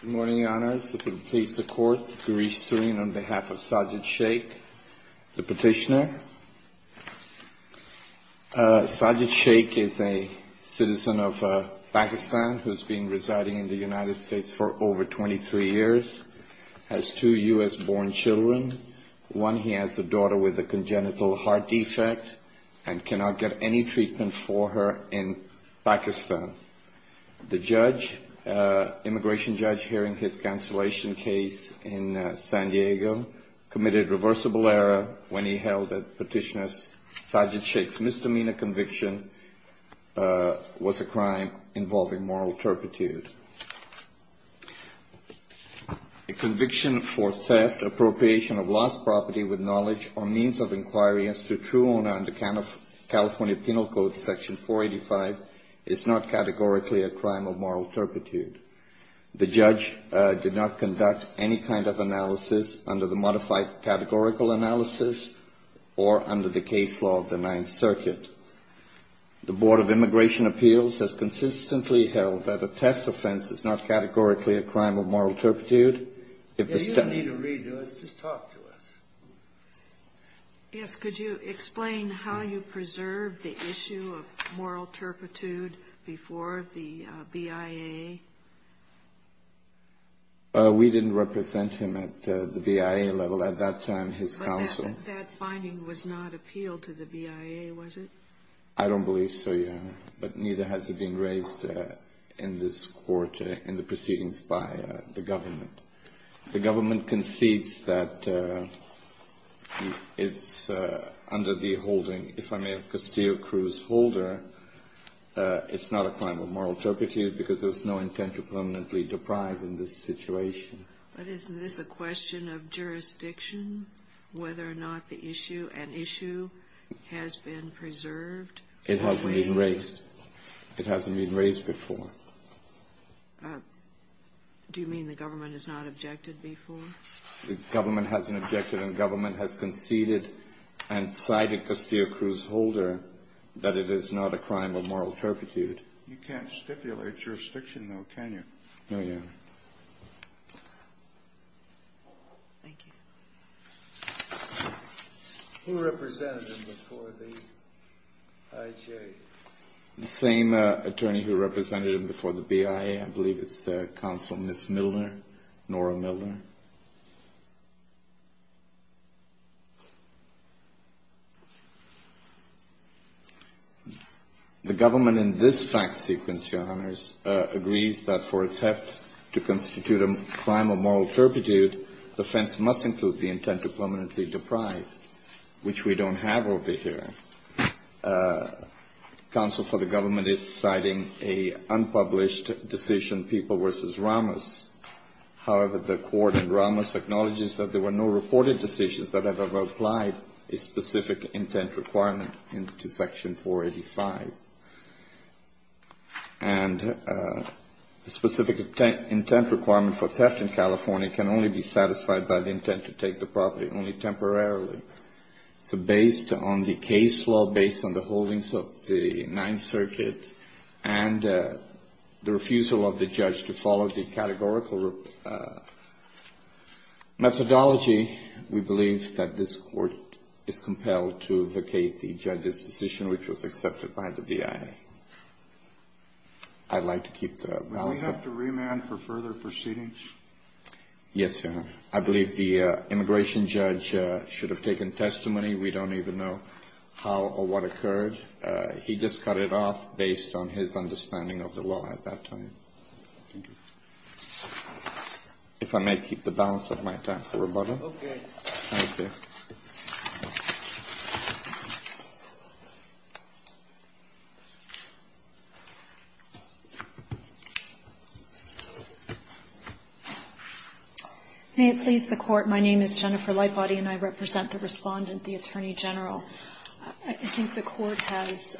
Good morning, your honors. If it pleases the court, Gareesh Sareen on behalf of Sajid Shaikh, the petitioner. Sajid Shaikh is a citizen of Pakistan who has been residing in the United States for over 23 years, has two U.S.-born children. One, he has a daughter with a congenital heart defect and cannot get any treatment for her in Pakistan. The judge, immigration judge, hearing his cancellation case in San Diego, committed reversible error when he held that petitioner Sajid Shaikh's misdemeanor conviction was a crime involving moral turpitude. A conviction for theft, appropriation of lost property with knowledge or means of inquiry as to true owner under California Penal Code Section 485 is not categorically a crime of moral turpitude. The judge did not conduct any kind of analysis under the modified categorical analysis or under the case law of the Ninth Circuit. The Board of Immigration Appeals has consistently held that a theft offense is not categorically a crime of moral turpitude. If you need a reader, just talk to us. Yes, could you explain how you preserved the issue of moral turpitude before the BIA? We didn't represent him at the BIA level at that time, his counsel. That finding was not appealed to the BIA, was it? I don't believe so, yeah, but neither has it been raised in this court in the proceedings by the government. The government concedes that it's under the holding, if I may have Castillo-Cruz holder, it's not a crime of moral turpitude because there's no intent to permanently deprive in this situation. But isn't this a question of jurisdiction, whether or not the issue, an issue has been preserved? It hasn't been raised. It hasn't been raised before. Do you mean the government has not objected before? The government hasn't objected and the government has conceded and cited Castillo-Cruz holder that it is not a crime of moral turpitude. You can't stipulate jurisdiction, though, can you? No, Your Honor. Thank you. Who represented him before the IJA? The same attorney who represented him before the BIA. I believe it's the counsel, Ms. Miller, Nora Miller. The government in this fact sequence, Your Honors, agrees that for a theft to constitute a crime of moral turpitude, the offense must include the intent to permanently deprive, which we don't have over here. Counsel for the government is citing an unpublished decision, People v. Ramos. However, the court in Ramos acknowledges that there were no reported decisions that have ever applied a specific intent requirement into Section 485. And a specific intent requirement for theft in California can only be satisfied by the intent to take the property only temporarily. So based on the case law, based on the holdings of the Ninth Circuit, and the refusal of the judge to follow the categorical methodology, we believe that this court is compelled to vacate the judge's decision, which was accepted by the BIA. I'd like to keep the balance up. Do we have to remand for further proceedings? Yes, Your Honor. I believe the immigration judge should have taken testimony. We don't even know how or what occurred. He just cut it off based on his understanding of the law at that time. Thank you. If I may keep the balance of my time for rebuttal. Okay. Thank you. May it please the Court, my name is Jennifer Lightbody, and I represent the Respondent, the Attorney General. I think the Court has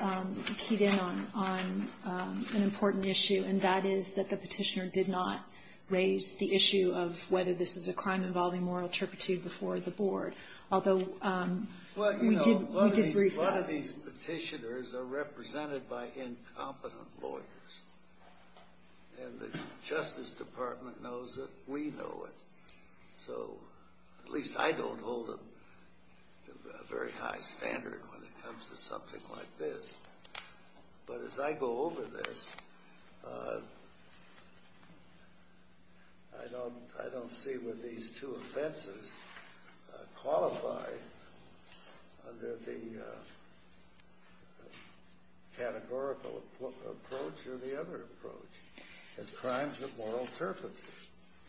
keyed in on an important issue, and that is that the Petitioner did not raise the issue of whether this is a crime involving moral turpitude before the Board. Although we did brief them. Well, you know, a lot of these Petitioners are represented by incompetent lawyers. And the Justice Department knows that we know it. So at least I don't hold a very high standard when it comes to something like this. But as I go over this, I don't see where these two offenses qualify under the categorical approach or the other approach as crimes of moral turpitude.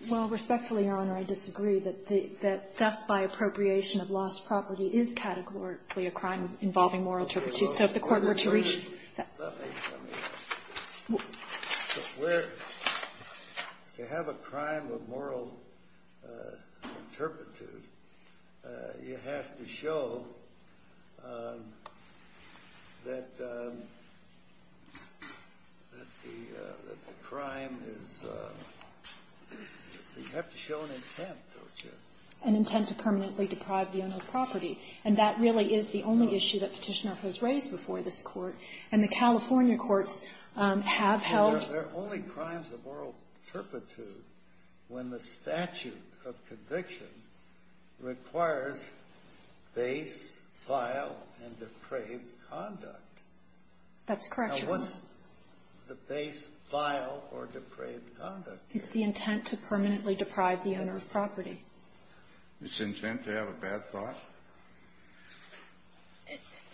Well, respectfully, Your Honor, I disagree that theft by appropriation of lost property is categorically a crime involving moral turpitude. So if the Court were to read that. Let me ask you this. To have a crime of moral turpitude, you have to show that the crime is you have to show an intent, don't you? An intent to permanently deprive the owner of property. And that really is the only issue that Petitioner has raised before this Court. And the California courts have held. There are only crimes of moral turpitude when the statute of conviction requires base, file, and depraved conduct. That's correct, Your Honor. Now, what's the base, file, or depraved conduct? It's the intent to permanently deprive the owner of property. It's intent to have a bad thought?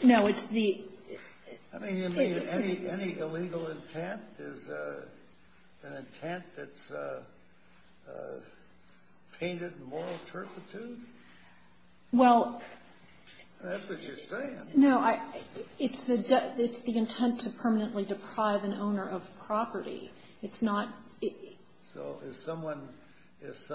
No, it's the ---- I mean, you mean any illegal intent is an intent that's painted moral turpitude? Well ---- That's what you're saying. No, it's the intent to permanently deprive an owner of property. It's not ---- So if someone goes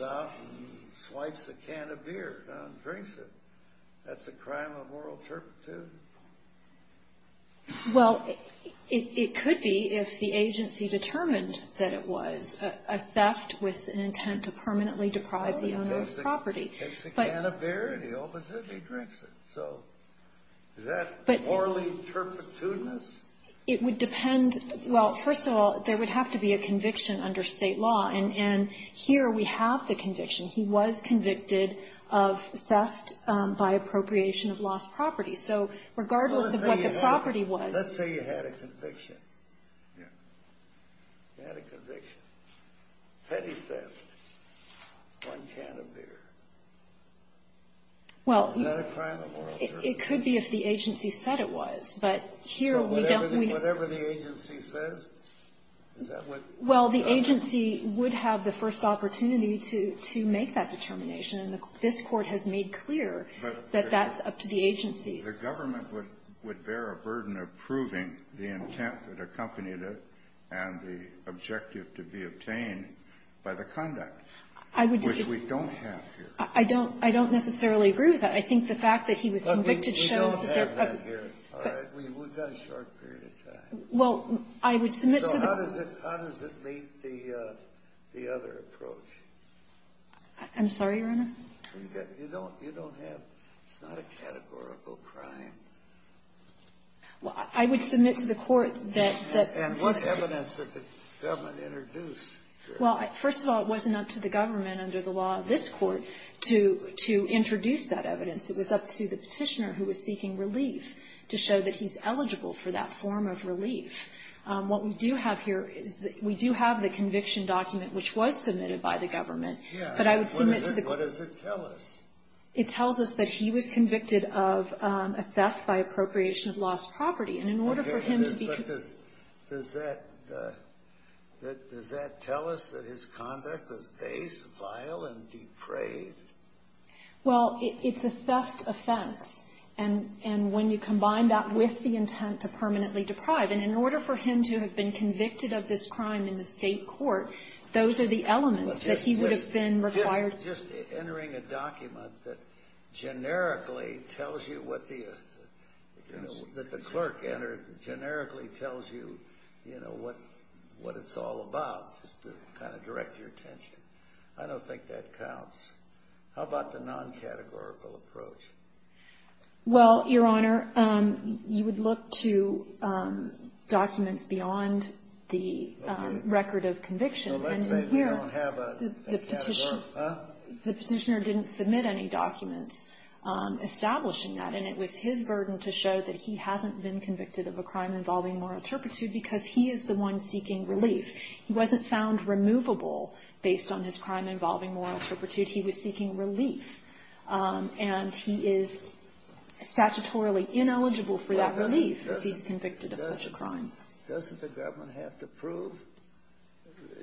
out and swipes a can of beer and drinks it, that's a crime of moral turpitude? Well, it could be if the agency determined that it was a theft with an intent to permanently deprive the owner of property. Takes a can of beer, and the opposite, he drinks it. So is that morally turpitudinous? It would depend. Well, first of all, there would have to be a conviction under State law. And here we have the conviction. He was convicted of theft by appropriation of lost property. So regardless of what the property was ---- Let's say you had a conviction. You had a conviction. Petty theft on a can of beer. Is that a crime of moral turpitude? Well, it could be if the agency said it was. But here we don't ---- But whatever the agency says, is that what ---- Well, the agency would have the first opportunity to make that determination. The government would bear a burden of proving the intent that accompanied it and the objective to be obtained by the conduct. I would ---- Which we don't have here. I don't necessarily agree with that. I think the fact that he was convicted shows that there ---- We don't have that here. All right. We've got a short period of time. Well, I would submit to the ---- So how does it meet the other approach? I'm sorry, Your Honor? You don't have ---- It's not a categorical crime. Well, I would submit to the Court that ---- And what evidence did the government introduce? Well, first of all, it wasn't up to the government under the law of this Court to introduce that evidence. It was up to the Petitioner who was seeking relief to show that he's eligible for that form of relief. What we do have here is that we do have the conviction document which was submitted by the government. Yes. But I would submit to the ---- What does it tell us? It tells us that he was convicted of a theft by appropriation of lost property. And in order for him to be ---- But does that tell us that his conduct was base, vile, and depraved? Well, it's a theft offense. And when you combine that with the intent to permanently deprive, and in order for him to have been convicted of this crime in the State court, those are the elements that he would have been required ---- Just entering a document that generically tells you what the ---- that the clerk entered generically tells you, you know, what it's all about, just to kind of direct your attention. I don't think that counts. How about the non-categorical approach? Well, Your Honor, you would look to documents beyond the record of conviction. Okay. So let's say we don't have a category, huh? The Petitioner didn't submit any documents establishing that. And it was his burden to show that he hasn't been convicted of a crime involving moral turpitude because he is the one seeking relief. He wasn't found removable based on his crime involving moral turpitude. He was seeking relief. And he is statutorily ineligible for that relief if he's convicted of such a crime. Doesn't the government have to prove,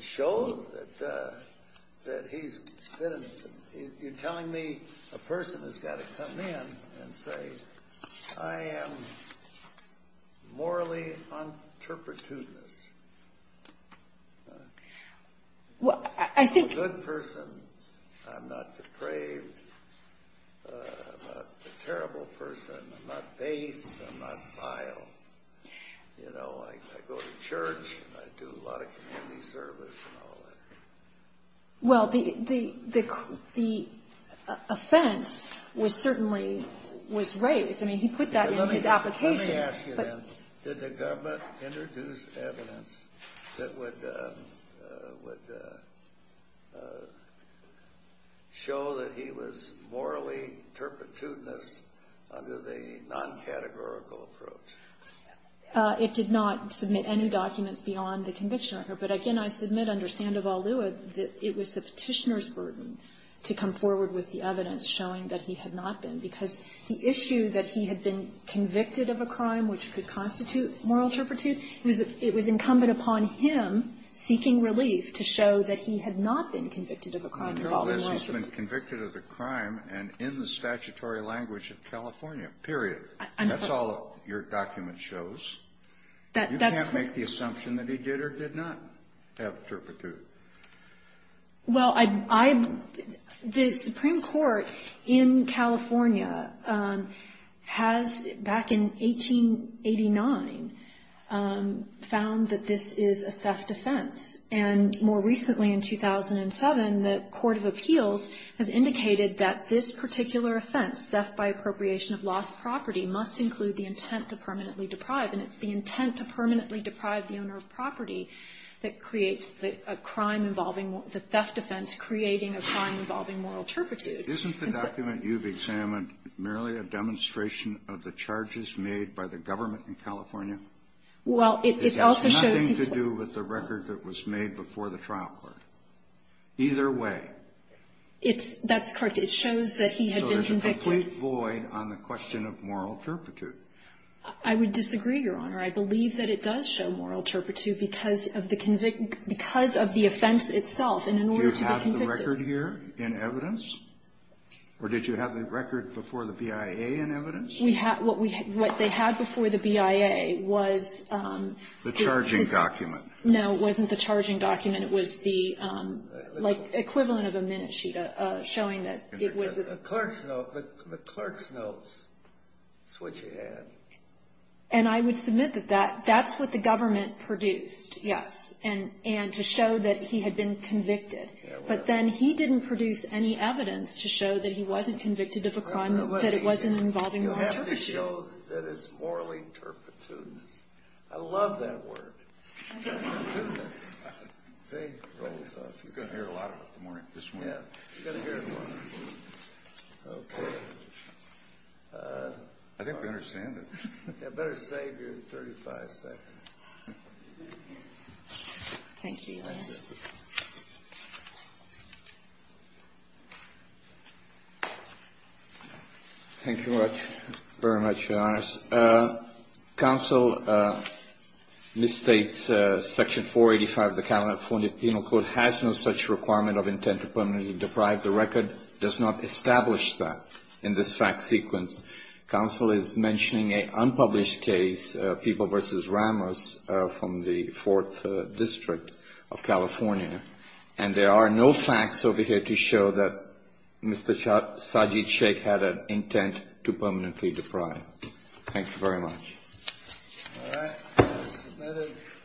show that he's been ---- You're telling me a person has got to come in and say, I am morally on turpitude. Well, I think ---- I'm a terrible person. I'm not base. I'm not vile. You know, I go to church. I do a lot of community service and all that. Well, the offense was certainly, was raised. I mean, he put that in his application. Let me ask you then, did the government introduce evidence that would show that he was morally turpitudinous under the non-categorical approach? It did not submit any documents beyond the conviction record. But, again, I submit under Sandoval-Lewitt that it was the Petitioner's burden to come forward with the evidence showing that he had not been because the issue that he had been convicted of a crime which could constitute moral turpitude, it was incumbent upon him, seeking relief, to show that he had not been convicted of a crime. He's been convicted of a crime and in the statutory language of California, period. I'm sorry. That's all your document shows. That's correct. You can't make the assumption that he did or did not have turpitude. Well, I, I, the Supreme Court in California has, back in 1889, found that this is a theft offense. And more recently, in 2007, the Court of Appeals has indicated that this particular offense, theft by appropriation of lost property, must include the intent to permanently deprive, and it's the intent to permanently deprive the owner of property that creates the, a crime involving, the theft offense creating a crime involving moral turpitude. Isn't the document you've examined merely a demonstration of the charges made by the government in California? Well, it, it also shows. It has nothing to do with the record that was made before the trial court. Either way. It's, that's correct. It shows that he had been convicted. So there's a complete void on the question of moral turpitude. I would disagree, Your Honor. I believe that it does show moral turpitude because of the convict, because of the offense itself. And in order to be convicted. You have the record here in evidence? Or did you have the record before the BIA in evidence? We have, what we, what they had before the BIA was. The charging document. No. It wasn't the charging document. It was the, like, equivalent of a minute sheet showing that it was. The clerk's note. The clerk's notes. That's what you had. And I would submit that that, that's what the government produced. Yes. And, and to show that he had been convicted. Yeah, well. But then he didn't produce any evidence to show that he wasn't convicted of a crime, that it wasn't involving moral turpitude. You have to show that it's morally turpitudinous. I love that word. Turpitudinous. See? Roll this off. You're going to hear it a lot this morning. This morning. Yeah. You're going to hear it a lot. Okay. I think we understand it. Better save your 35 seconds. Thank you. Thank you. Thank you very much, Your Honors. Counsel misstates Section 485 of the California Penal Code has no such requirement of intent to permanently deprive the record. It does not establish that in this fact sequence. Counsel is mentioning an unpublished case, People v. Ramos, from the 4th District of California. And there are no facts over here to show that Mr. Sajid Shaikh had an intent to permanently deprive. Thank you very much. All right. It's submitted.